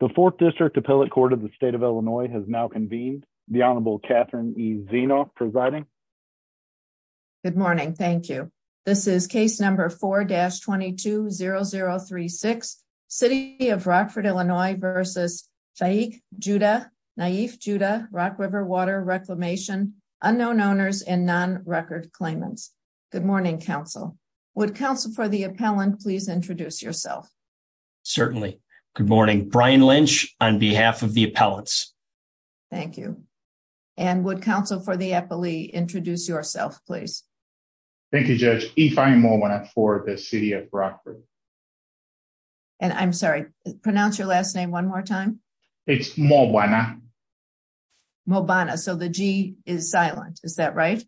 The 4th District Appellate Court of the State of Illinois has now convened. The Honorable Catherine E. Zeno presiding. Good morning, thank you. This is case number 4-22-0036, City of Rockford, Illinois v. Shaik Joudeh, Naif Joudeh, Rock River Water Reclamation, Unknown Owners, and Non-Record Claimants. Good morning, counsel. Would counsel for the appellant please introduce yourself? Certainly. Good morning. Brian Lynch on behalf of the appellants. Thank you. And would counsel for the appellee introduce yourself, please? Thank you, Judge. If I'm Mo Banna for the City of Rockford. And I'm sorry, pronounce your last name one more time. It's Mo Banna. Mo Banna. So the G is silent. Is that right?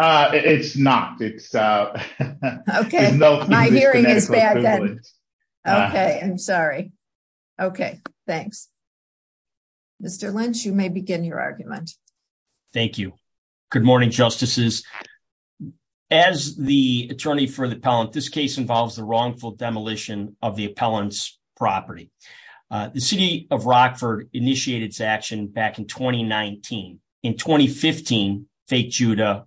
It's not. It's... Okay, my hearing is bad then. Okay, I'm sorry. Okay, thanks. Mr. Lynch, you may begin your argument. Thank you. Good morning, Justices. As the attorney for the appellant, this case involves the wrongful demolition of the appellant's property. The City of Rockford initiated its action back in 2019. In 2015, fake Joudeh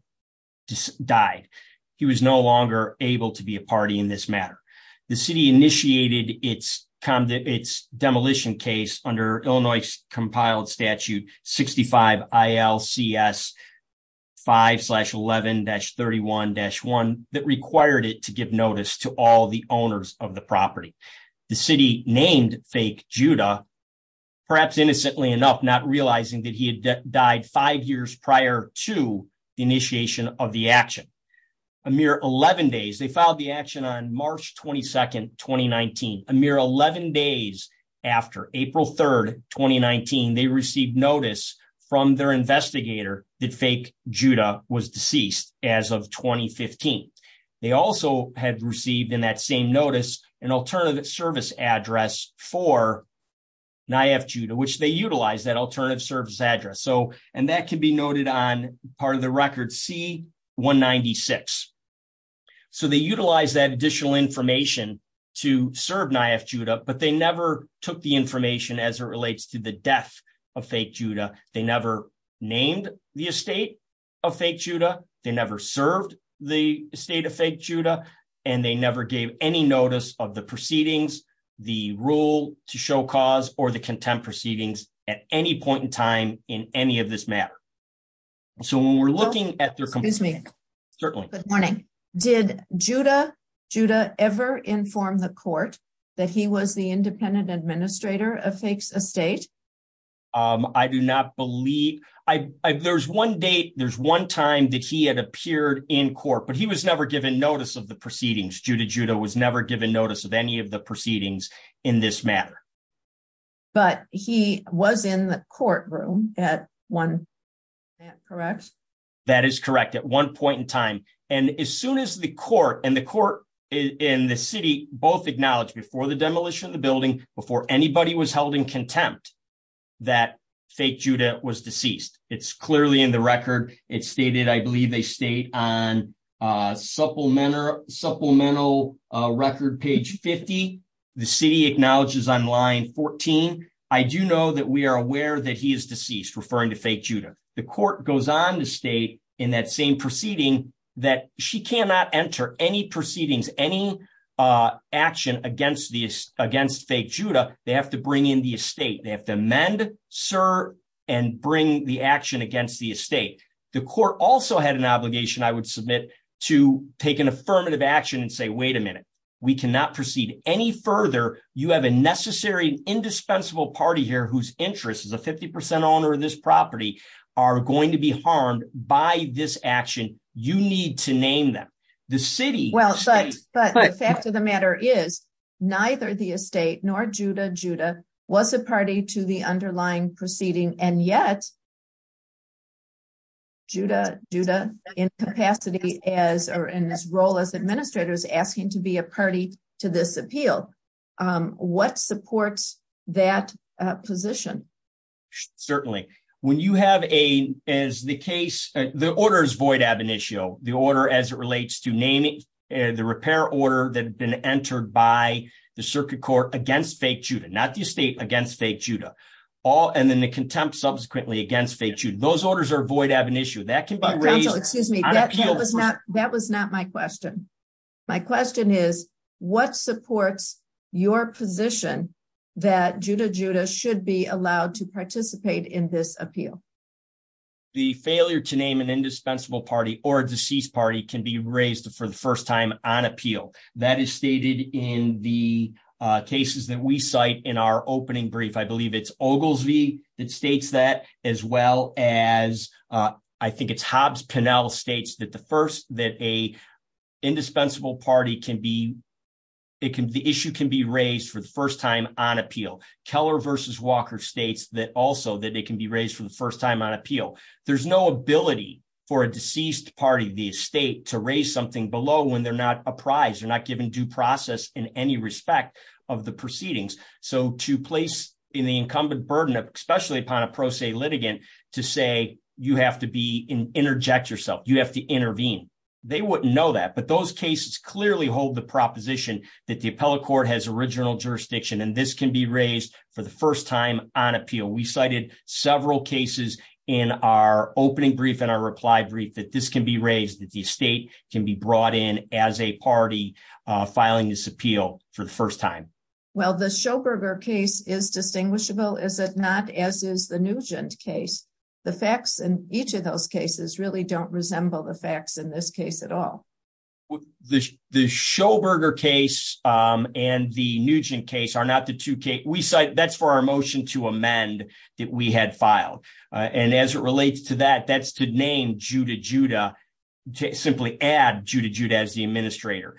died. He was no longer able to be a party in this matter. The City initiated its demolition case under Illinois Compiled Statute 65 ILCS 5-11-31-1 that required it to give notice to all the owners of the property. The City named fake Joudeh, perhaps innocently enough, not realizing that he had died five years prior to the initiation of the action. A mere 11 days, they filed the action on March 22, 2019. A mere 11 days after, April 3, 2019, they received notice from their investigator that fake Joudeh was deceased as of 2015. They also had received in that same notice an alternative service address for NIAF Joudeh, which they utilized that alternative service address. That can be noted on part of the record C-196. They utilized that additional information to serve NIAF Joudeh, but they never took the information as it relates to the death of fake Joudeh. They never named the estate of fake Joudeh. They never served the estate of fake Joudeh, and they never gave any notice of the proceedings, the rule to show cause, or the contempt proceedings at any point in time in any of this matter. So when we're looking at their... Excuse me. Certainly. Good morning. Did Joudeh ever inform the court that he was the independent administrator of fake's estate? I do not believe... There's one date, there's one time that he had appeared in court, but he was never given notice of the proceedings. Joudeh was never given notice of any of the proceedings in this matter. But he was in the courtroom at one point, correct? That is correct. At one point in time. And as soon as the court and the court in the city both acknowledged before the demolition of the building, before anybody was held in contempt, that fake Joudeh was deceased. It's clearly in the record. It's stated, I believe they stayed on supplemental record page 50. The city acknowledges on line 14. I do know that we are aware that he is deceased, referring to fake Joudeh. The court goes on to state in that same proceeding that she cannot enter any proceedings, any action against fake Joudeh. They have to bring in the estate. They have to amend, sir, and bring the action against the estate. The court also had an obligation, I would submit, to take an affirmative action and say, wait a minute, we cannot proceed any further. You have a necessary, indispensable party here whose interest is a 50% owner of this property are going to be harmed by this action. You need to name them. The city. But the fact of the matter is neither the estate nor Joudeh Joudeh was a party to the underlying proceeding. And yet. Judah Judah incapacity as or in this role as administrators asking to be a party to this appeal. What supports that position? Certainly, when you have a as the case, the orders void ab initio, the order as it relates to naming the repair order that been entered by the circuit court against fake Judah, not the estate against fake Judah. All and then the contempt subsequently against fake you. Those orders are void ab initio that can be raised. That was not my question. My question is what supports your position that Judah Judah should be allowed to participate in this appeal? The failure to name an indispensable party or deceased party can be raised for the first time on appeal that is stated in the cases that we cite in our opening brief. I believe it's Oglesby that states that as well as I think it's Hobbs Pennell states that the first that a indispensable party can be. It can the issue can be raised for the first time on appeal. Keller versus Walker states that also that it can be raised for the first time on appeal. There's no ability for a deceased party, the estate to raise something below when they're not apprised or not given due process in any respect of the proceedings. So to place in the incumbent burden of especially upon a pro se litigant to say you have to be in interject yourself. You have to intervene. They wouldn't know that, but those cases clearly hold the proposition that the appellate court has original jurisdiction and this can be raised for the first time on appeal. We cited several cases in our opening brief and our reply brief that this can be raised that the state can be brought in as a party filing this appeal for the first time. Well, the show burger case is distinguishable. Is it not? As is the Nugent case, the facts in each of those cases really don't resemble the facts in this case at all. The show burger case and the Nugent case are not the two case we cite. That's for our motion to amend that we had filed and as it relates to that, that's to name Judah Judah to simply add Judah Judah as the administrator.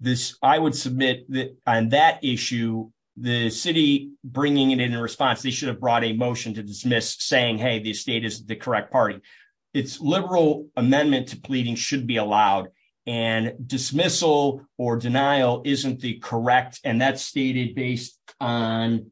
This I would submit that on that issue, the city bringing it in response, they should have brought a motion to dismiss saying, hey, the state is the correct party. It's liberal amendment to pleading should be allowed and dismissal or denial isn't the correct. And that's stated based on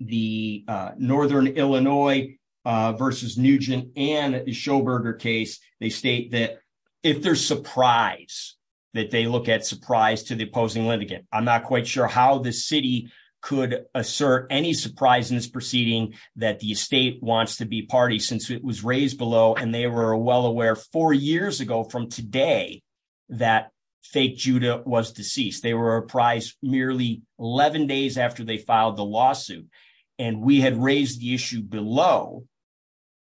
the northern Illinois versus Nugent and show burger case. They state that if there's surprise that they look at surprise to the opposing litigant. I'm not quite sure how the city could assert any surprise in this proceeding that the state wants to be party since it was raised below and they were well aware four years ago from today that fake Judah was deceased. They were apprised merely 11 days after they filed the lawsuit and we had raised the issue below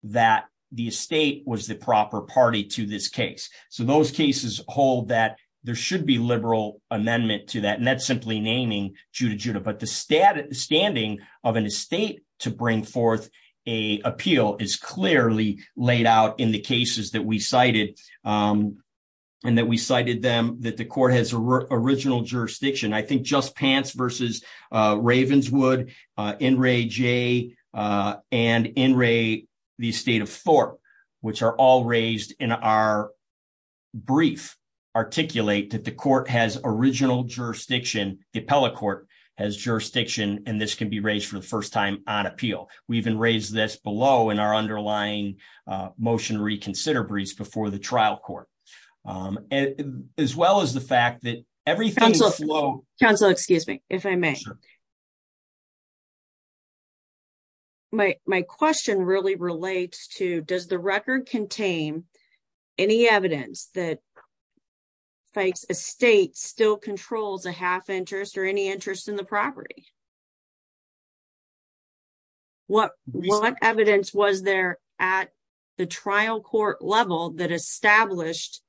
that the state was the proper party to this case. So those cases hold that there should be liberal amendment to that. And that's simply naming Judah Judah. But the standing of an estate to bring forth a appeal is clearly laid out in the cases that we cited and that we cited them that the court has original jurisdiction. I think just pants versus Ravenswood in Ray J. And in Ray, the state of Thorpe, which are all raised in our brief articulate that the court has original jurisdiction. The appellate court has jurisdiction. And this can be raised for the first time on appeal. We even raised this below in our underlying motion reconsider breeze before the trial court, as well as the fact that everything is low. Council, excuse me, if I may. My question really relates to does the record contain any evidence that a state still controls a half interest or any interest in the property? What what evidence was there at the trial court level that established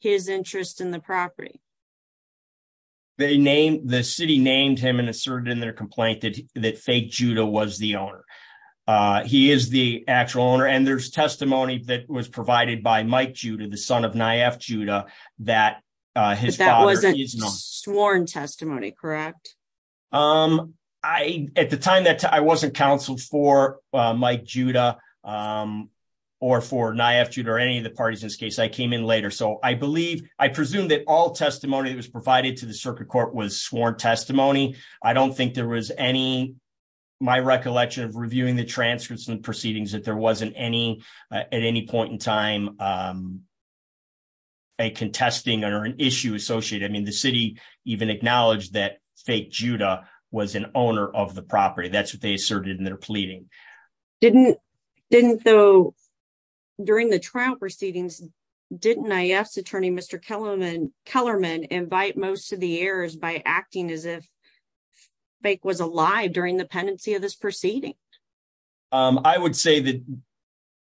his interest in the property? They named the city named him and asserted in their complaint that that fake Judah was the owner. He is the actual owner. And there's testimony that was provided by Mike Judah, the son of Nyef Judah, that his father wasn't sworn testimony. Correct. Um, I at the time that I wasn't counseled for Mike Judah or for Nyef Judah or any of the parties in this case, I came in later. So I believe I presume that all testimony that was provided to the circuit court was sworn testimony. I don't think there was any my recollection of reviewing the transcripts and proceedings that there wasn't any at any point in time. A contesting or an issue associated, I mean, the city even acknowledged that fake Judah was an owner of the property. That's what they asserted in their pleading. Didn't didn't though during the trial proceedings, didn't Nyef's attorney, Mr. Kellerman invite most of the errors by acting as if fake was alive during the pendency of this proceeding? I would say that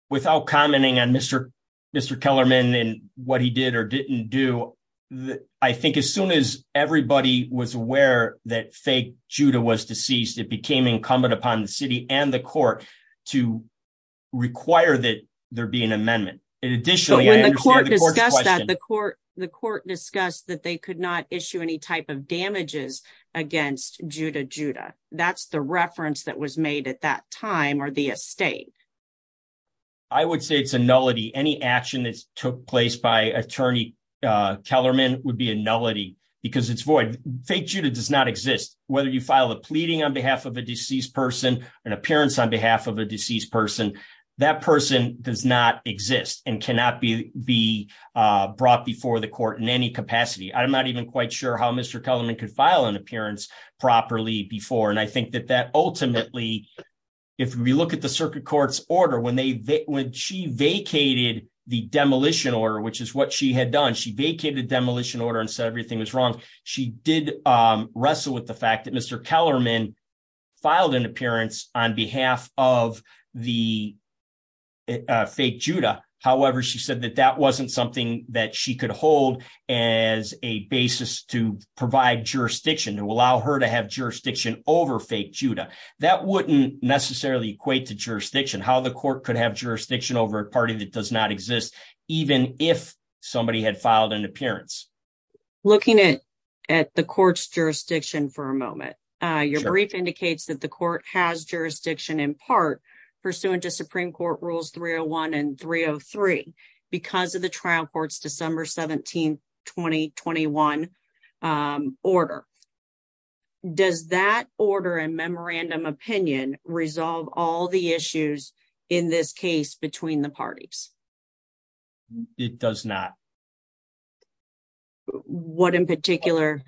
without commenting on Mr. Kellerman and what he did or didn't do, I think as soon as everybody was aware that fake Judah was deceased, it became incumbent upon the city and the court to require that there be an amendment. And additionally, the court, the court discussed that they could not issue any type of damages against Judah Judah. That's the reference that was made at that time or the estate. I would say it's a nullity. Any action that took place by attorney Kellerman would be a nullity because it's void. Fake Judah does not exist. Whether you file a pleading on behalf of a deceased person, an appearance on behalf of a deceased person, that person does not exist and cannot be be brought before the court in any capacity. I'm not even quite sure how Mr. Kellerman could file an appearance properly before. I think that ultimately, if we look at the circuit court's order, when she vacated the demolition order, which is what she had done, she vacated the demolition order and said everything was wrong. She did wrestle with the fact that Mr. Kellerman filed an appearance on behalf of the fake Judah. However, she said that that wasn't something that she could hold as a basis to provide jurisdiction, to allow her to have jurisdiction over fake Judah. That wouldn't necessarily equate to jurisdiction. How the court could have jurisdiction over a party that does not exist, even if somebody had filed an appearance. Looking at the court's jurisdiction for a moment, your brief indicates that the court has jurisdiction in part pursuant to Supreme Court Rules 301 and 303 because of the trial court's December 17, 2021, order. Does that order and memorandum opinion resolve all the issues in this case between the parties? It does not. What in particular?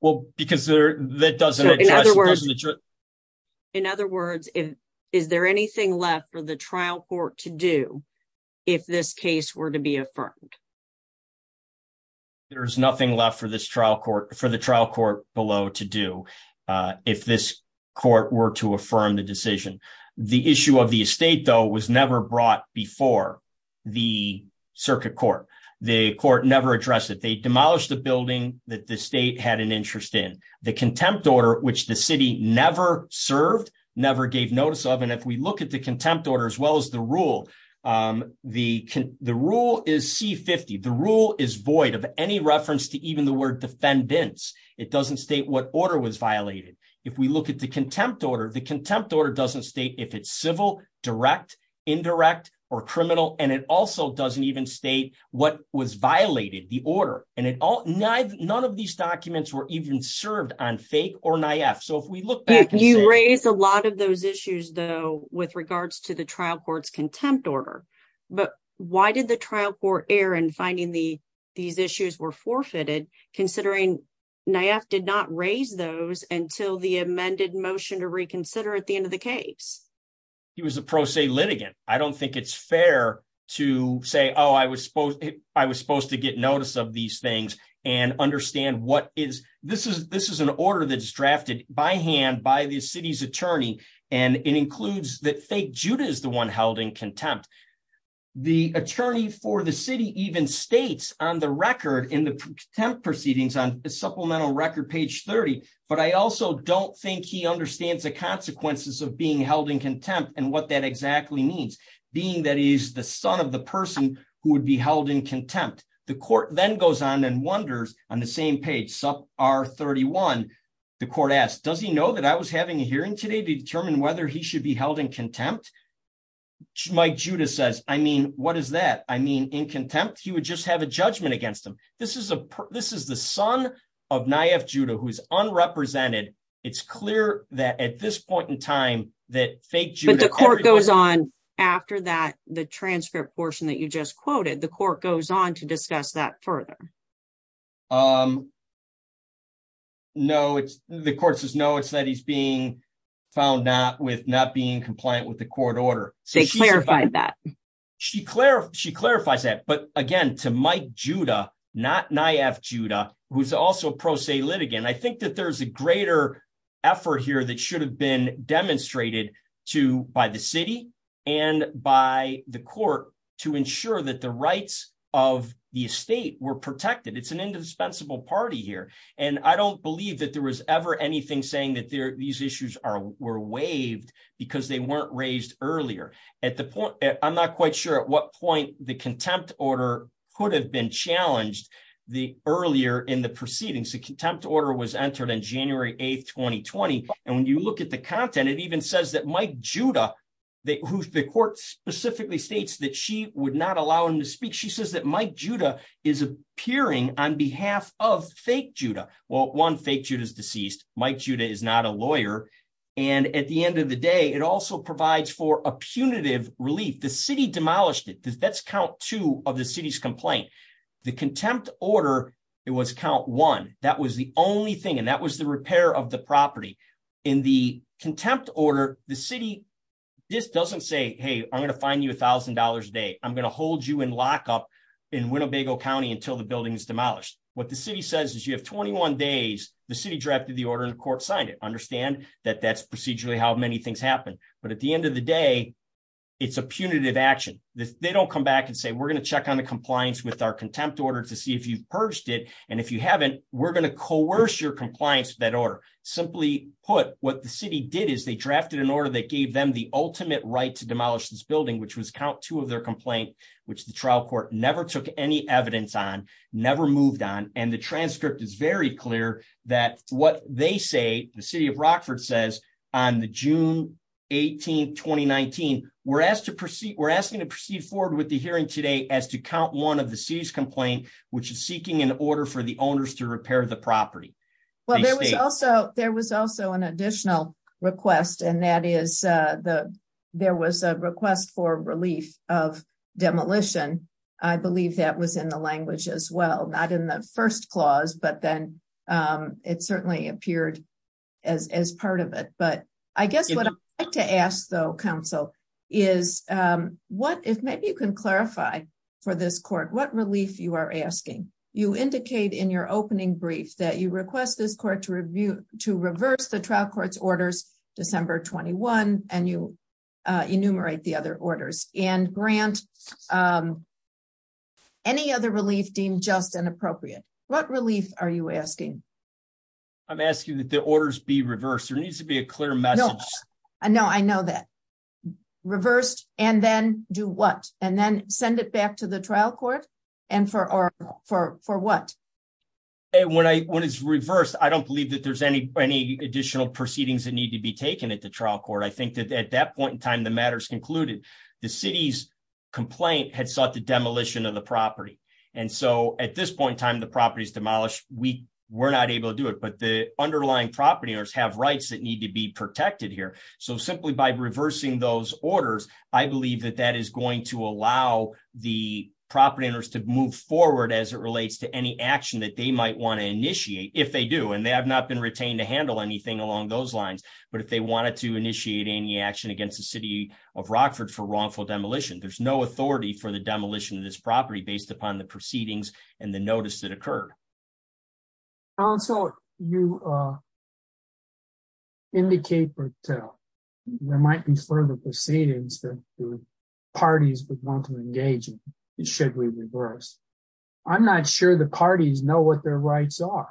Well, because there, that doesn't. In other words, is there anything left for the trial court to do if this case were to be affirmed? There's nothing left for the trial court below to do if this court were to affirm the decision. The issue of the estate, though, was never brought before the circuit court. The court never addressed it. They demolished the building that the state had an interest in. The contempt order, which the city never served, never gave notice of, and if we look at the C-50, the rule is void of any reference to even the word defendants. It doesn't state what order was violated. If we look at the contempt order, the contempt order doesn't state if it's civil, direct, indirect, or criminal, and it also doesn't even state what was violated, the order. And none of these documents were even served on fake or naïve. So if we look back and see- You raised a lot of those issues, though, with regards to the trial court's contempt order. But why did the trial court err in finding these issues were forfeited, considering NIAF did not raise those until the amended motion to reconsider at the end of the case? He was a pro se litigant. I don't think it's fair to say, oh, I was supposed to get notice of these things and understand what is- This is an order that's drafted by hand by the city's attorney, and it includes that Judah is the one held in contempt. The attorney for the city even states on the record in the contempt proceedings on the supplemental record, page 30, but I also don't think he understands the consequences of being held in contempt and what that exactly means, being that he is the son of the person who would be held in contempt. The court then goes on and wonders on the same page, sub R31, the court asks, does he know that I was having a hearing today to determine whether he should be held in contempt? Mike Judah says, I mean, what is that? I mean, in contempt, he would just have a judgment against him. This is the son of NIAF Judah who is unrepresented. It's clear that at this point in time that fake Judah- But the court goes on after that, the transcript portion that you just quoted, the court goes on to discuss that further. Um, no, it's the court says no, it's that he's being found not with not being compliant with the court order. They clarified that. She clarifies that. But again, to Mike Judah, not NIAF Judah, who's also a pro se litigant, I think that there's a greater effort here that should have been demonstrated to by the city and by the court to ensure that the rights of the estate were protected. It's an indispensable party here. And I don't believe that there was ever anything saying that these issues were waived because they weren't raised earlier. I'm not quite sure at what point the contempt order could have been challenged earlier in the proceedings. The contempt order was entered on January 8th, 2020. And when you look at the content, it even says that Mike Judah, who the court specifically states that she would not allow him to speak. She says that Mike Judah is appearing on behalf of fake Judah. Well, one, fake Judah is deceased. Mike Judah is not a lawyer. And at the end of the day, it also provides for a punitive relief. The city demolished it. That's count two of the city's complaint. The contempt order, it was count one. That was the only thing. And that was the repair of the property. In the contempt order, the city just doesn't say, hey, I'm going to fine you $1,000 a day. I'm going to hold you in lockup in Winnebago County until the building is demolished. What the city says is you have 21 days. The city drafted the order and the court signed it. Understand that that's procedurally how many things happen. But at the end of the day, it's a punitive action. They don't come back and say, we're going to check on the compliance with our contempt order to see if you've purged it. And if you haven't, we're going to coerce your compliance with that order. Simply put, what the city did is they drafted an order that gave them the ultimate right to demolish this building, which was count two of their complaint, which the trial court never took any evidence on, never moved on. And the transcript is very clear that what they say, the city of Rockford says on the June 18, 2019, we're asking to proceed forward with the hearing today as to count one of the city's complaint, which is seeking an order for the owners to repair the property. Well, there was also, there was also an additional request and that is the, there was a request for relief of demolition. I believe that was in the language as well, not in the first clause, but then it certainly appeared as, as part of it. But I guess what I like to ask though, counsel is what, if maybe you can clarify for this court, what relief you are asking. You indicate in your opening brief that you request this court to review, to reverse the trial court's orders, December 21, and you enumerate the other orders and grant any other relief deemed just and appropriate. What relief are you asking? I'm asking that the orders be reversed. There needs to be a clear message. No, I know that reversed and then do what? And then send it back to the trial court and for, or for, for what? And when I, when it's reversed, I don't believe that there's any, any additional proceedings that need to be taken at the trial court. I think that at that point in time, the matters concluded the city's complaint had sought the demolition of the property. And so at this point in time, the property is demolished. We were not able to do it, but the underlying property owners have rights that need to be protected here. So simply by reversing those orders, I believe that that is going to allow the property owners to move forward as it relates to any action that they might want to initiate if they do, and they have not been retained to handle anything along those lines. But if they wanted to initiate any action against the city of Rockford for wrongful demolition, there's no authority for the demolition of this property based upon the proceedings and the notice that occurred. And so you indicate or tell there might be further proceedings that parties would want to engage in, should we reverse. I'm not sure the parties know what their rights are.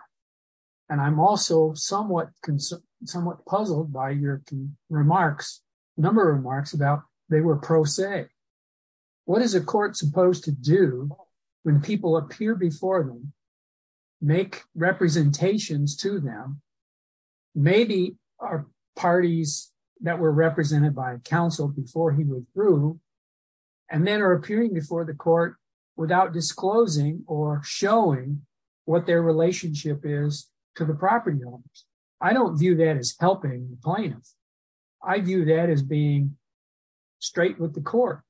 And I'm also somewhat, somewhat puzzled by your remarks, a number of remarks about they were pro se. What is a court supposed to do when people appear before them, make representations to them? Maybe our parties that were represented by counsel before he withdrew and then are appearing before the court without disclosing or showing what their relationship is to the property owners. I don't view that as helping the plaintiffs. I view that as being straight with the court.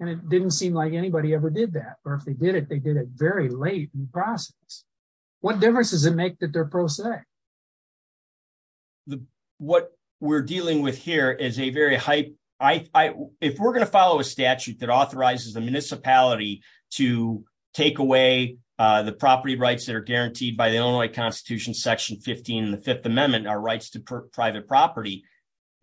And it didn't seem like anybody ever did that. Or if they did it, they did it very late in the process. What difference does it make that they're pro se? What we're dealing with here is a very high, if we're going to follow a statute that authorizes the municipality to take away the property rights that are guaranteed by the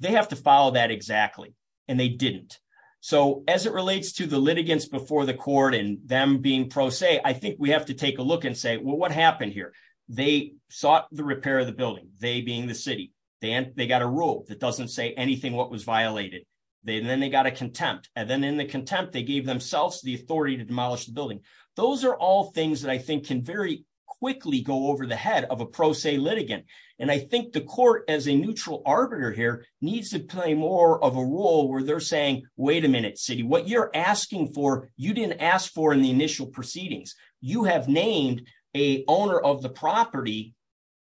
they have to follow that exactly. And they didn't. So as it relates to the litigants before the court and them being pro se, I think we have to take a look and say, well, what happened here? They sought the repair of the building, they being the city. Then they got a rule that doesn't say anything what was violated. Then they got a contempt. And then in the contempt, they gave themselves the authority to demolish the building. Those are all things that I think can very quickly go over the head of a pro se litigant. And I think the court as a neutral arbiter here needs to play more of a role where they're saying, wait a minute, city, what you're asking for, you didn't ask for in the initial proceedings, you have named a owner of the property.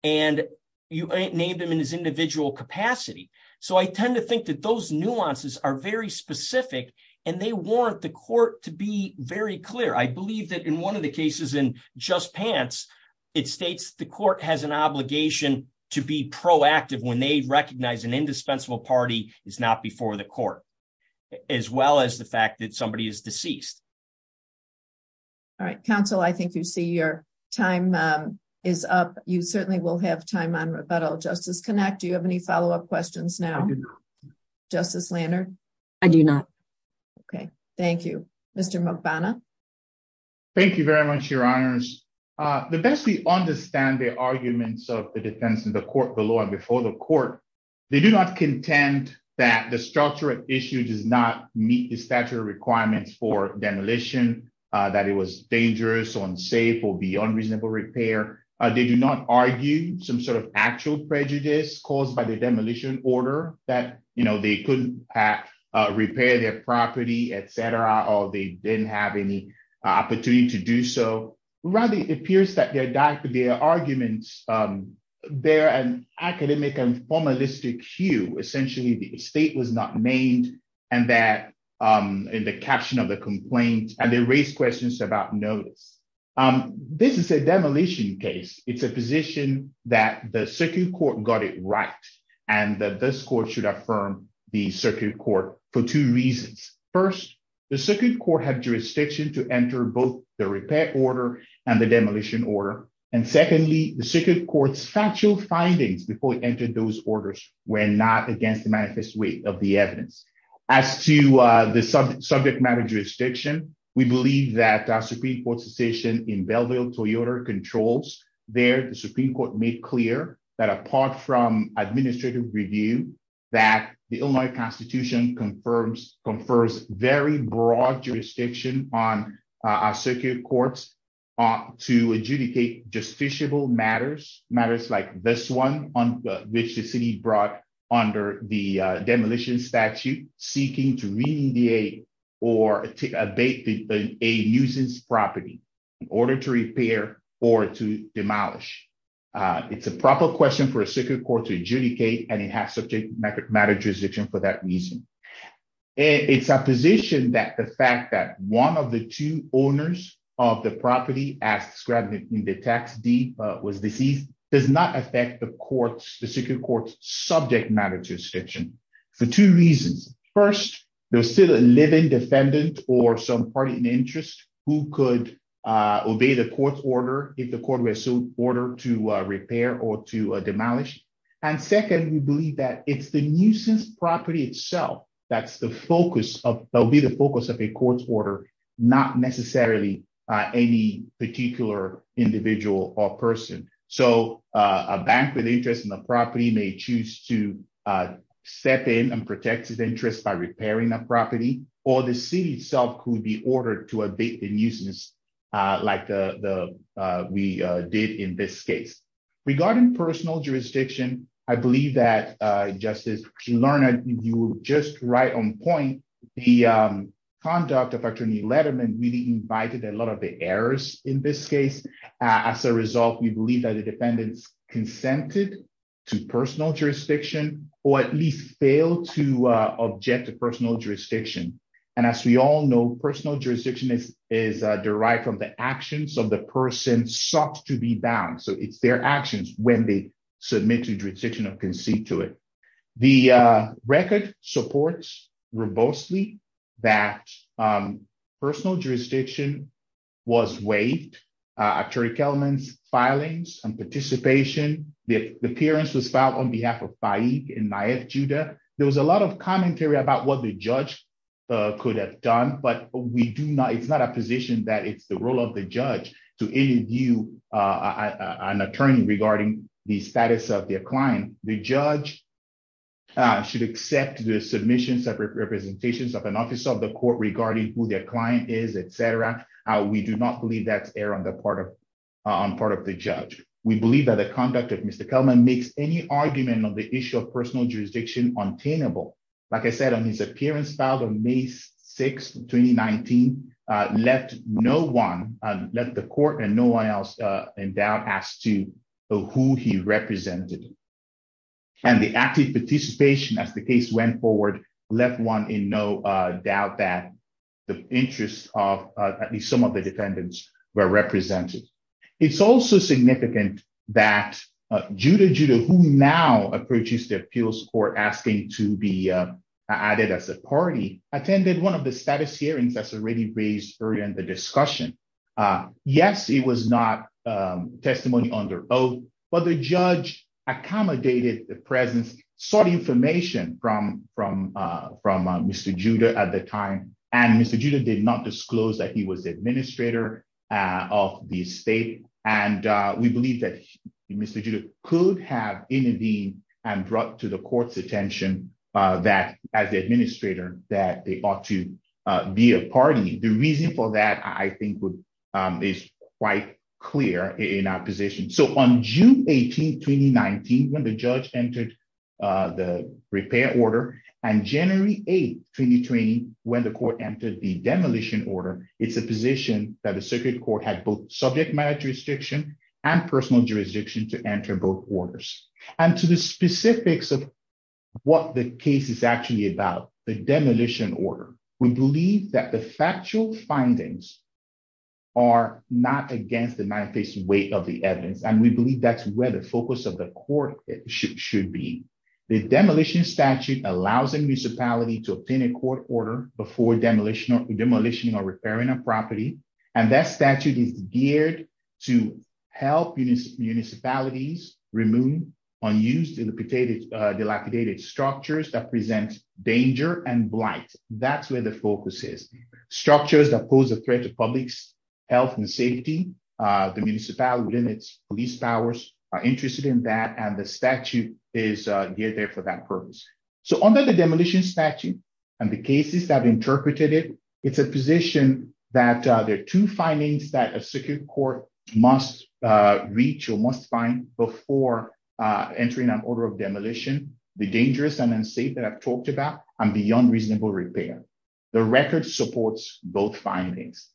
And you named him in his individual capacity. So I tend to think that those nuances are very specific. And they warrant the court to be very clear. I believe that in one of the cases in Just Pants, it states the court has an obligation to be proactive when they recognize an indispensable party is not before the court, as well as the fact that somebody is deceased. All right, counsel, I think you see your time is up. You certainly will have time on rebuttal. Justice Connacht, do you have any follow up questions now? I do not. Justice Lannert? I do not. Okay, thank you. Mr. Mukbana? Thank you very much, Your Honors. The best we understand the arguments of the defense in the court below and before the court, they do not contend that the structural issue does not meet the statutory requirements for demolition, that it was dangerous or unsafe or be unreasonable repair. They do not argue some sort of actual prejudice caused by the demolition order that, you know, they couldn't have repaired their property, etc. Or they didn't have any opportunity to do so. Rather, it appears that their arguments, they're an academic and formalistic hue. Essentially, the state was not named and that in the caption of the complaint, and they raised questions about notice. This is a demolition case. It's a position that the circuit court got it right. And that this court should affirm the circuit court for two reasons. First, the circuit court had jurisdiction to enter both the repair order and the demolition order. And secondly, the circuit court's factual findings before it entered those orders were not against the manifest way of the evidence. As to the subject matter of jurisdiction, we believe that our Supreme Court's decision in Belleville-Toyota controls there, the Supreme Court made clear that apart from administrative review, that the Illinois Constitution confirms, confers very broad jurisdiction on our circuit courts to adjudicate justiciable matters, matters like this one on which the city brought under the demolition statute, seeking to remediate or abate a nuisance property in order to repair or to demolish. It's a proper question for a circuit court to adjudicate, and it has subject matter jurisdiction for that reason. It's a position that the fact that one of the two owners of the property as described in the text, D was deceased, does not affect the court's, the circuit court's subject matter jurisdiction for two reasons. First, there was still a living defendant or some party in interest who could obey the court's order if the court were to order to repair or to demolish. And second, we believe that it's the nuisance property itself that's the focus of, that'll be the focus of a court's order, not necessarily any particular individual or person. So a bank with interest in the property may choose to step in and protect its interest by repairing a property, or the city itself could be ordered to abate the nuisance like we did in this case. Regarding personal jurisdiction, I believe that Justice Lerner, you were just right on point. The conduct of Attorney Letterman really invited a lot of the errors in this case. As a result, we believe that the defendants consented to personal jurisdiction or at least failed to object to personal jurisdiction. And as we all know, personal jurisdiction is, is derived from the actions of the person sought to be bound. So it's their actions when they submit to jurisdiction or concede to it. The record supports robustly that personal jurisdiction was waived. Attorney Kellerman's filings and participation, the appearance was filed on behalf of Faik and Naif Judah. There was a lot of commentary about what the judge could have done, but we do not, it's not a position that it's the role of the judge to interview an attorney regarding the status of their client. The judge should accept the submissions of representations of an officer of the court regarding who their client is, etc. We do not believe that's error on the part of, on part of the judge. We believe that the conduct of Mr. Kellerman makes any argument on the issue of personal jurisdiction untainable. Like I said, on his appearance filed on May 6th, 2019, left no one, left the court and no one else in doubt as to who he represented. And the active participation as the case went forward, left one in no doubt that the interests of at least some of the defendants were represented. It's also significant that Judah Judah, who now approaches the appeals court, asking to be added as a party, attended one of the status hearings that's already raised earlier in the discussion. Yes, it was not testimony under oath, but the judge accommodated the presence, sought information from Mr. Judah at the time, and Mr. Judah did not disclose that he was administrator of the state. And we believe that Mr. Judah could have intervened and brought to the court's attention that as the administrator, that they ought to be a party. The reason for that, I think is quite clear in our position. So on June 18th, 2019, when the judge entered the repair order and January 8th, 2020, when the court entered the demolition order, it's a position that the circuit court had both subject matter jurisdiction and personal jurisdiction to enter both orders. And to the specifics of what the case is actually about, the demolition order, we believe that the factual findings are not against the manifest way of the evidence. And we believe that's where the focus of the court should be. The demolition statute allows a municipality to obtain a court order before demolishing or repairing a property. And that statute is geared to help municipalities remove unused dilapidated structures that present danger and blight. That's where the focus is. Structures that pose a threat to public's health and safety, the municipality within its police powers are interested in that. And the statute is geared there for that purpose. So under the demolition statute and the cases that interpreted it, it's a position that there are two findings that a circuit court must reach or must find before entering an order of demolition. The dangerous and unsafe that I've talked about and the unreasonable repair. The record supports both findings.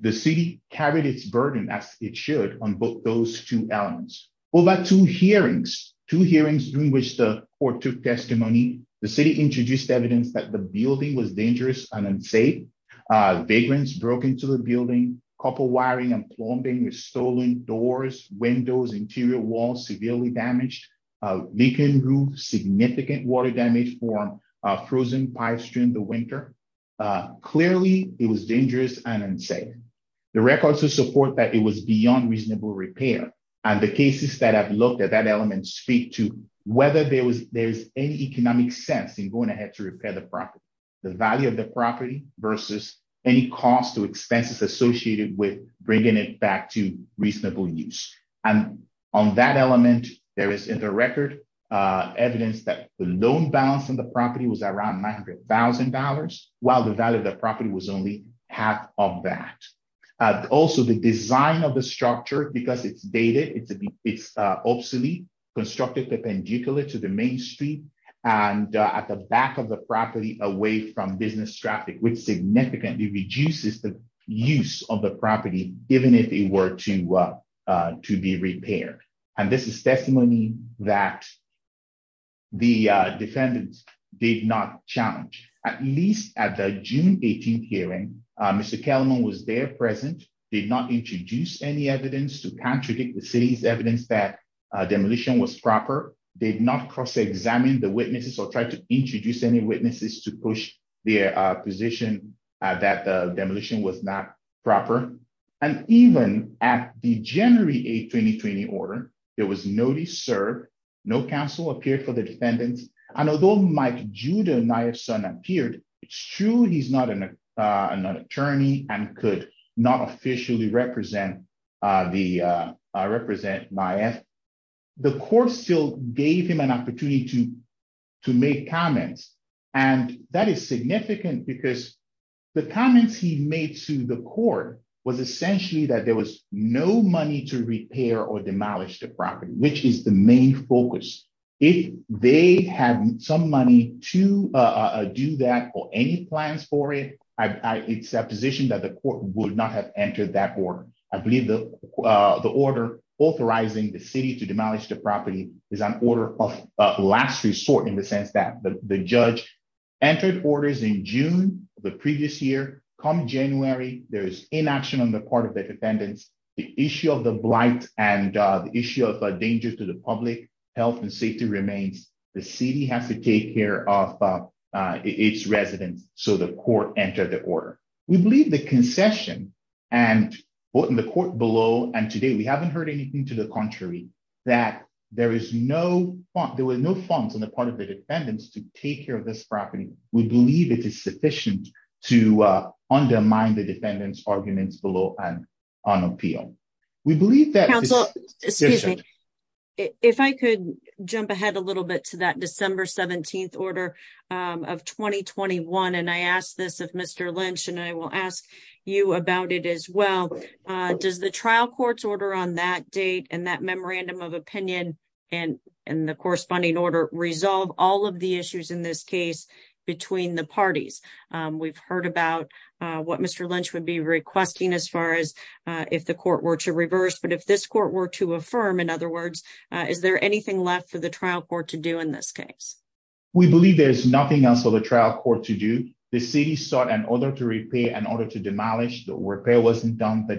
The city carried its burden as it should on both those two elements. Over two hearings, two hearings during which the court took testimony, the city introduced evidence that the building was dangerous and unsafe. Vagrants broke into the building. Copper wiring and plumbing were stolen. Doors, windows, interior walls severely damaged. Leaking roof, significant water damage for a frozen pipe stream in the winter. Clearly, it was dangerous and unsafe. The records would support that it was beyond reasonable repair. And the cases that have looked at that element speak to whether there's any economic sense in going ahead to repair the property. The value of the property versus any cost or expenses associated with bringing it back to reasonable use. And on that element, there is in the record evidence that the loan balance on the property was around $900,000, while the value of the property was only half of that. Also, the design of the structure, because it's dated, it's obsolete, constructed perpendicular to the main street, and at the back of the property away from business traffic, which significantly reduces the use of the property, even if it were to be repaired. And this is testimony that the defendants did not challenge. At least at the June 18th hearing, Mr. Kellman was there present, did not introduce any evidence to contradict the city's evidence that demolition was proper, did not cross-examine the witnesses or try to introduce any witnesses to push their position that the demolition was not proper. And even at the January 8th 2020 order, there was no discern, no counsel appeared for the defendants. And although Mike Judah, NIAF's son, appeared, it's true he's not an attorney and could not officially represent NIAF. The court still gave him an opportunity to make comments. And that is significant because the comments he made to the court was essentially that there was no money to repair or demolish the property, which is the main focus. If they had some money to do that or any plans for it, it's a position that the court would not have entered that order. I believe the order authorizing the city to demolish the property is an order of last resort in the sense that the judge entered orders in June, the previous year. Come January, there is inaction on the part of the defendants. The issue of the blight and the issue of danger to the public health and safety remains. The city has to take care of its residents so the court entered the order. We believe the concession and what in the court below, and today we haven't heard anything to the contrary, that there was no funds on the part of the defendants to take care of this property. We believe it is sufficient to undermine the defendants' arguments below and on appeal. If I could jump ahead a little bit to that December 17th order of 2021, and I asked this of Mr. Lynch and I will ask you about it as well. Does the trial court's order on that date and that memorandum of opinion and the corresponding order resolve all of the issues in this case? Between the parties, we've heard about what Mr. Lynch would be requesting as far as if the court were to reverse. But if this court were to affirm, in other words, is there anything left for the trial court to do in this case? We believe there's nothing else for the trial court to do. The city sought an order to repay, an order to demolish. The repair wasn't done. The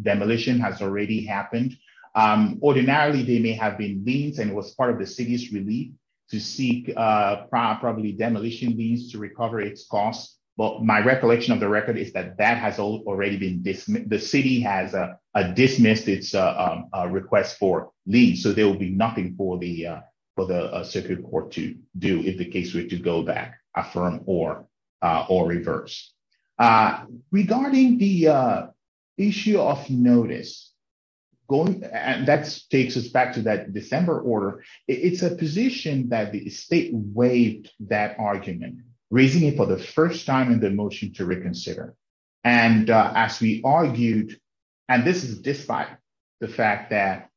demolition has already happened. Ordinarily, they may have been liens and it was part of the city's relief to seek probably demolition liens to recover its costs. But my recollection of the record is that that has already been dismissed. The city has dismissed its request for liens. So there will be nothing for the circuit court to do if the case were to go back, affirm, or reverse. Regarding the issue of notice, that takes us back to that December order. It's a position that the state waived that argument, raising it for the first time in the motion to reconsider. And as we argued, and this is despite the fact that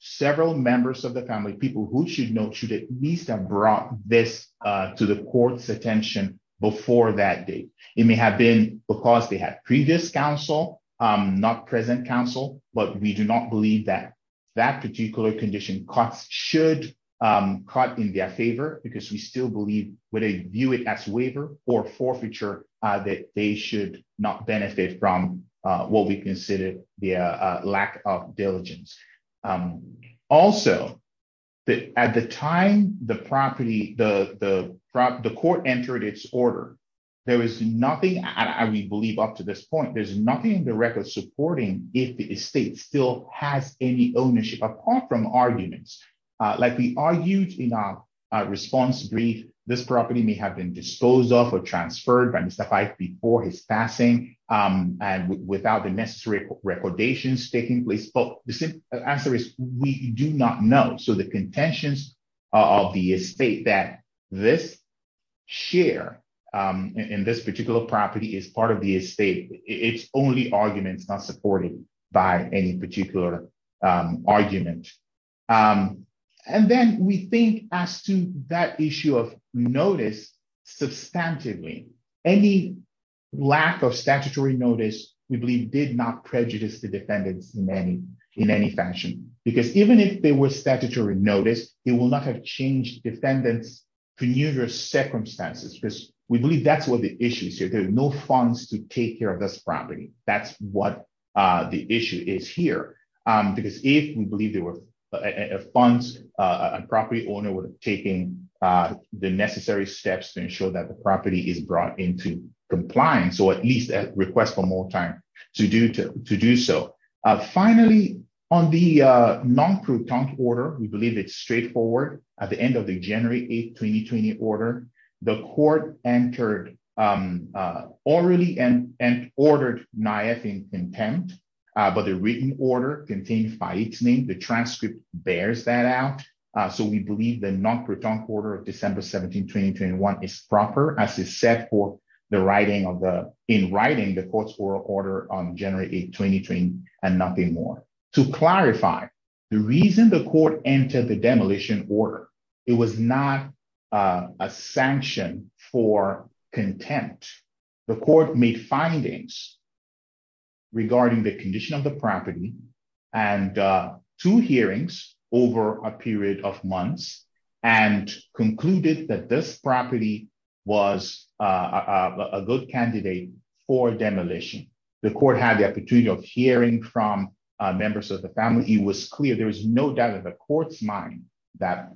several members of the family, people who should know, should at least have brought this to the court's attention before that date. It may have been because they had previous counsel, not present counsel. But we do not believe that that particular condition should cut in their favor because we still believe, whether you view it as waiver or forfeiture, that they should not benefit from what we consider the lack of diligence. Also, at the time the property, the court entered its order, there was nothing, I believe up to this point, there's nothing in the record supporting if the estate still has any ownership, apart from arguments. Like we argued in our response brief, this property may have been disposed of or transferred by Mr. Fyfe before his passing and without the necessary recordations taking place. But the answer is we do not know. So the contentions of the estate that this share in this particular property is part of the estate. It's only arguments not supported by any particular argument. And then we think as to that issue of notice, substantively, any lack of statutory notice, we believe did not prejudice the defendants in any fashion. Because even if there was statutory notice, it will not have changed defendants to numerous circumstances because we believe that's what the issue is here. No funds to take care of this property. That's what the issue is here. Because if we believe there were funds, a property owner would have taken the necessary steps to ensure that the property is brought into compliance, or at least a request for more time to do so. Finally, on the non-court order, we believe it's straightforward. At the end of the January 8th, 2020 order, the court entered orally and ordered NIAF in contempt, but the written order contained by its name. The transcript bears that out. So we believe the non-court order of December 17th, 2021 is proper as is set for the writing of the, in writing the court's oral order on January 8th, 2020 and nothing more. To clarify, the reason the court entered the demolition order, it was not a sanction for contempt. The court made findings regarding the condition of the property and two hearings over a period of months and concluded that this property was a good candidate for demolition. The court had the opportunity of hearing from members of the family. It was clear, there was no doubt in the court's mind that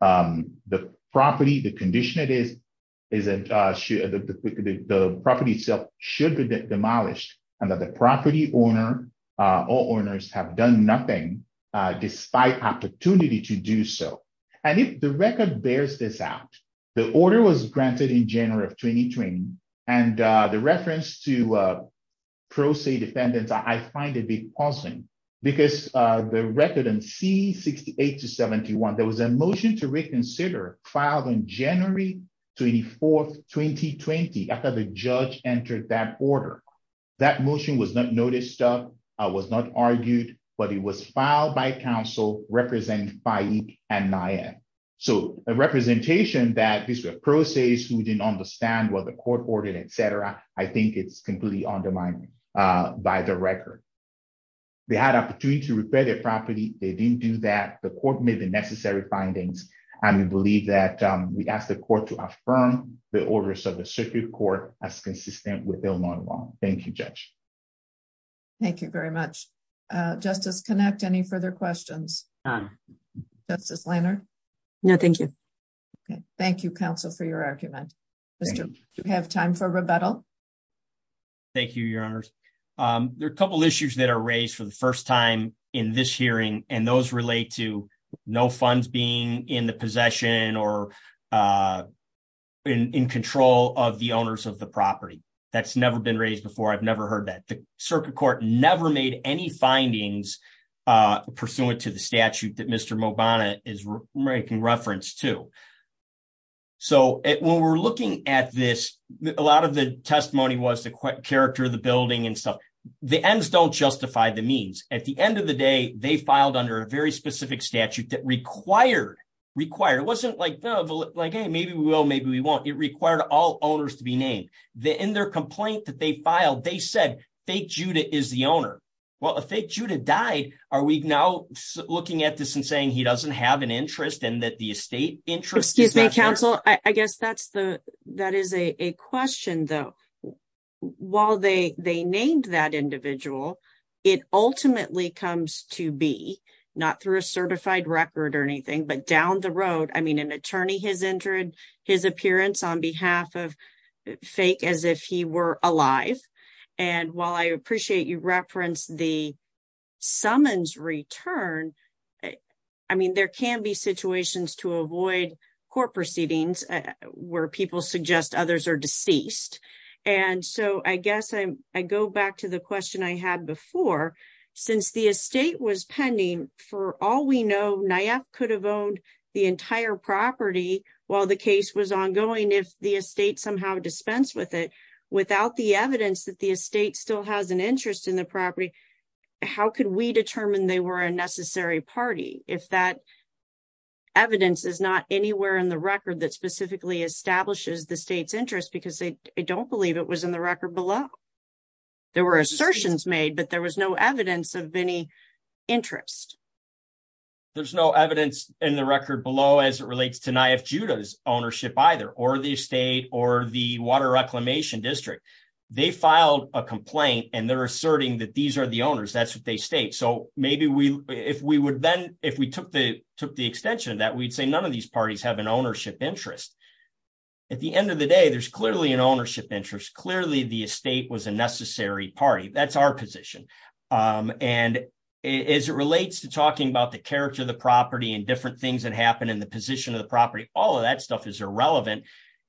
the property, the condition it is, is that the property itself should be demolished and that the property owner or owners have done nothing despite opportunity to do so. And if the record bears this out, the order was granted in January of 2020 and the reference to pro se defendants, I find a bit puzzling because the record in C-68 to 71, there was a motion to reconsider filed on January 24th, 2020 after the judge entered that order. That motion was not noticed, was not argued, but it was filed by counsel representing Fahik and Nayem. So a representation that these were pro se's who didn't understand what the court ordered, et cetera, I think it's completely undermining by the record. They had opportunity to repair their property. They didn't do that. The court made the necessary findings and we believe that we asked the court to affirm the orders of the circuit court as consistent with Illinois law. Thank you, Judge. Thank you very much. Justice Connacht, any further questions? Justice Lehner? No, thank you. Okay, thank you, counsel, for your argument. Do we have time for rebuttal? Thank you, your honors. There are a couple of issues that are raised for the first time in this hearing and those relate to no funds being in the possession or in control of the owners of the property. That's never been raised before. I've never heard that. The circuit court never made any findings pursuant to the statute that Mr. Mobana is making reference to. So when we're looking at this, a lot of the testimony was the character of the building and stuff. The ends don't justify the means. At the end of the day, they filed under a very specific statute that required, required, it wasn't like, hey, maybe we will, maybe we won't. It required all owners to be named. In their complaint that they filed, they said fake Judah is the owner. Well, if fake Judah died, are we now looking at this and saying he doesn't have an interest and that the estate interest- Excuse me, counsel. I guess that is a question though. While they named that individual, it ultimately comes to be, not through a certified record or anything, but down the road, I mean, an attorney has entered his appearance on behalf of fake as if he were alive. And while I appreciate you referenced the summons return, I mean, there can be situations to avoid court proceedings where people suggest others are deceased. And so I guess I go back to the question I had before. Since the estate was pending, for all we know, NIAF could have owned the entire property while the case was ongoing if the estate somehow dispensed with it without the evidence that the estate still has an interest in the property. How could we determine they were a necessary party if that evidence is not anywhere in the record that specifically establishes the state's interest because they don't believe it was in the record below? There were assertions made, but there was no evidence of any interest. There's no evidence in the record below as it relates to NIAF Judah's ownership either, or the estate, or the Water Reclamation District. They filed a complaint and they're asserting that these are the owners. That's what they state. So maybe if we took the extension of that, we'd say none of these parties have an ownership interest. At the end of the day, there's clearly an ownership interest. Clearly the estate was a necessary party. That's our position. And as it relates to talking about the character of the property and different things that happen in the position of the property, all of that stuff is irrelevant.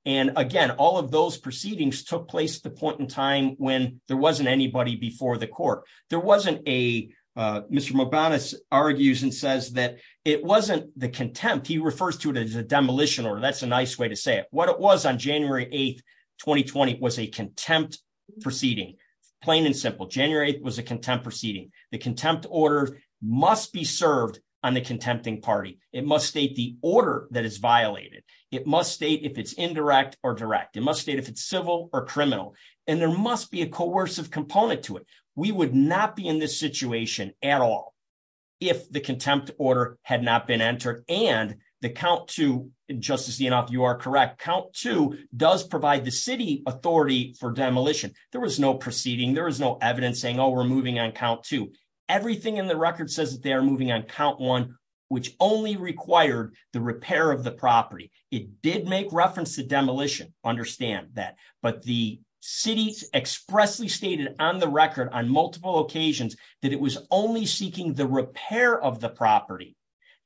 And again, all of those proceedings took place at the point in time when there wasn't anybody before the court. There wasn't a... Mr. Mobanis argues and says that it wasn't the contempt. He refers to it as a demolition order. That's a nice way to say it. What it was on January 8th, 2020 was a contempt proceeding, plain and simple. January 8th was a contempt proceeding. The contempt order must be served on the contempting party. It must state the order that is violated. It must state if it's indirect or direct. It must state if it's civil or criminal. And there must be a coercive component to it. We would not be in this situation at all if the contempt order had not been entered. And the count two, Justice Deanoff, you are correct. Count two does provide the city authority for demolition. There was no proceeding. There was no evidence saying, oh, we're moving on count two. Everything in the record says that they are moving on count one, which only required the repair of the property. It did make reference to demolition. Understand that. But the city expressly stated on the record on multiple occasions that it was only seeking the repair of the property.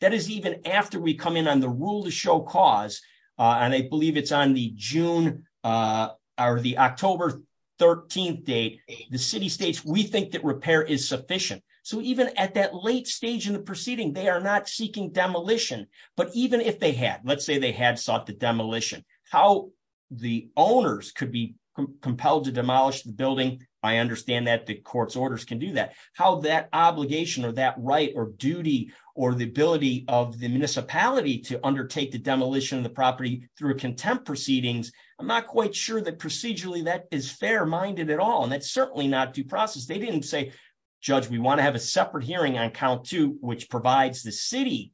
That is even after we come in on the rule to show cause, and I believe it's on the June or the October 13th date, the city states, we think that repair is sufficient. So even at that late stage in the proceeding, they are not seeking demolition. But even if they had, let's say they had sought the demolition, how the owners could be compelled to demolish the building, I understand that the court's orders can do that. How that obligation or that right or duty or the ability of the municipality to undertake the demolition of the property through contempt proceedings, I'm not quite sure that procedurally that is fair minded at all. And that's certainly not due process. They didn't say, judge, we want to have a separate hearing on count two, which provides the city,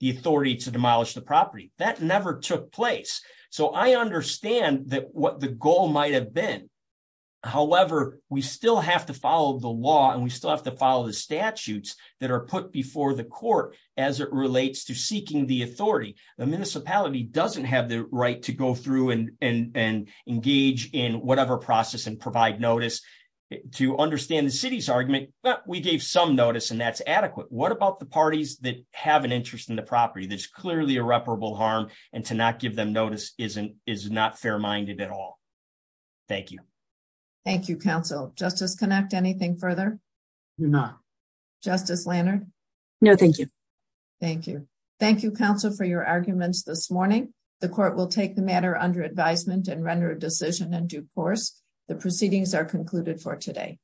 the authority to demolish the property. That never took place. So I understand that what the goal might have been however, we still have to follow the law and we still have to follow the statutes that are put before the court as it relates to seeking the authority. The municipality doesn't have the right to go through and engage in whatever process and provide notice. To understand the city's argument, we gave some notice and that's adequate. What about the parties that have an interest in the property? There's clearly irreparable harm and to not give them notice is not fair minded at all. Thank you. Thank you, counsel. Justice Connacht, anything further? No. Justice Lanard? No, thank you. Thank you. Thank you, counsel, for your arguments this morning. The court will take the matter under advisement and render a decision in due course. The proceedings are concluded for today.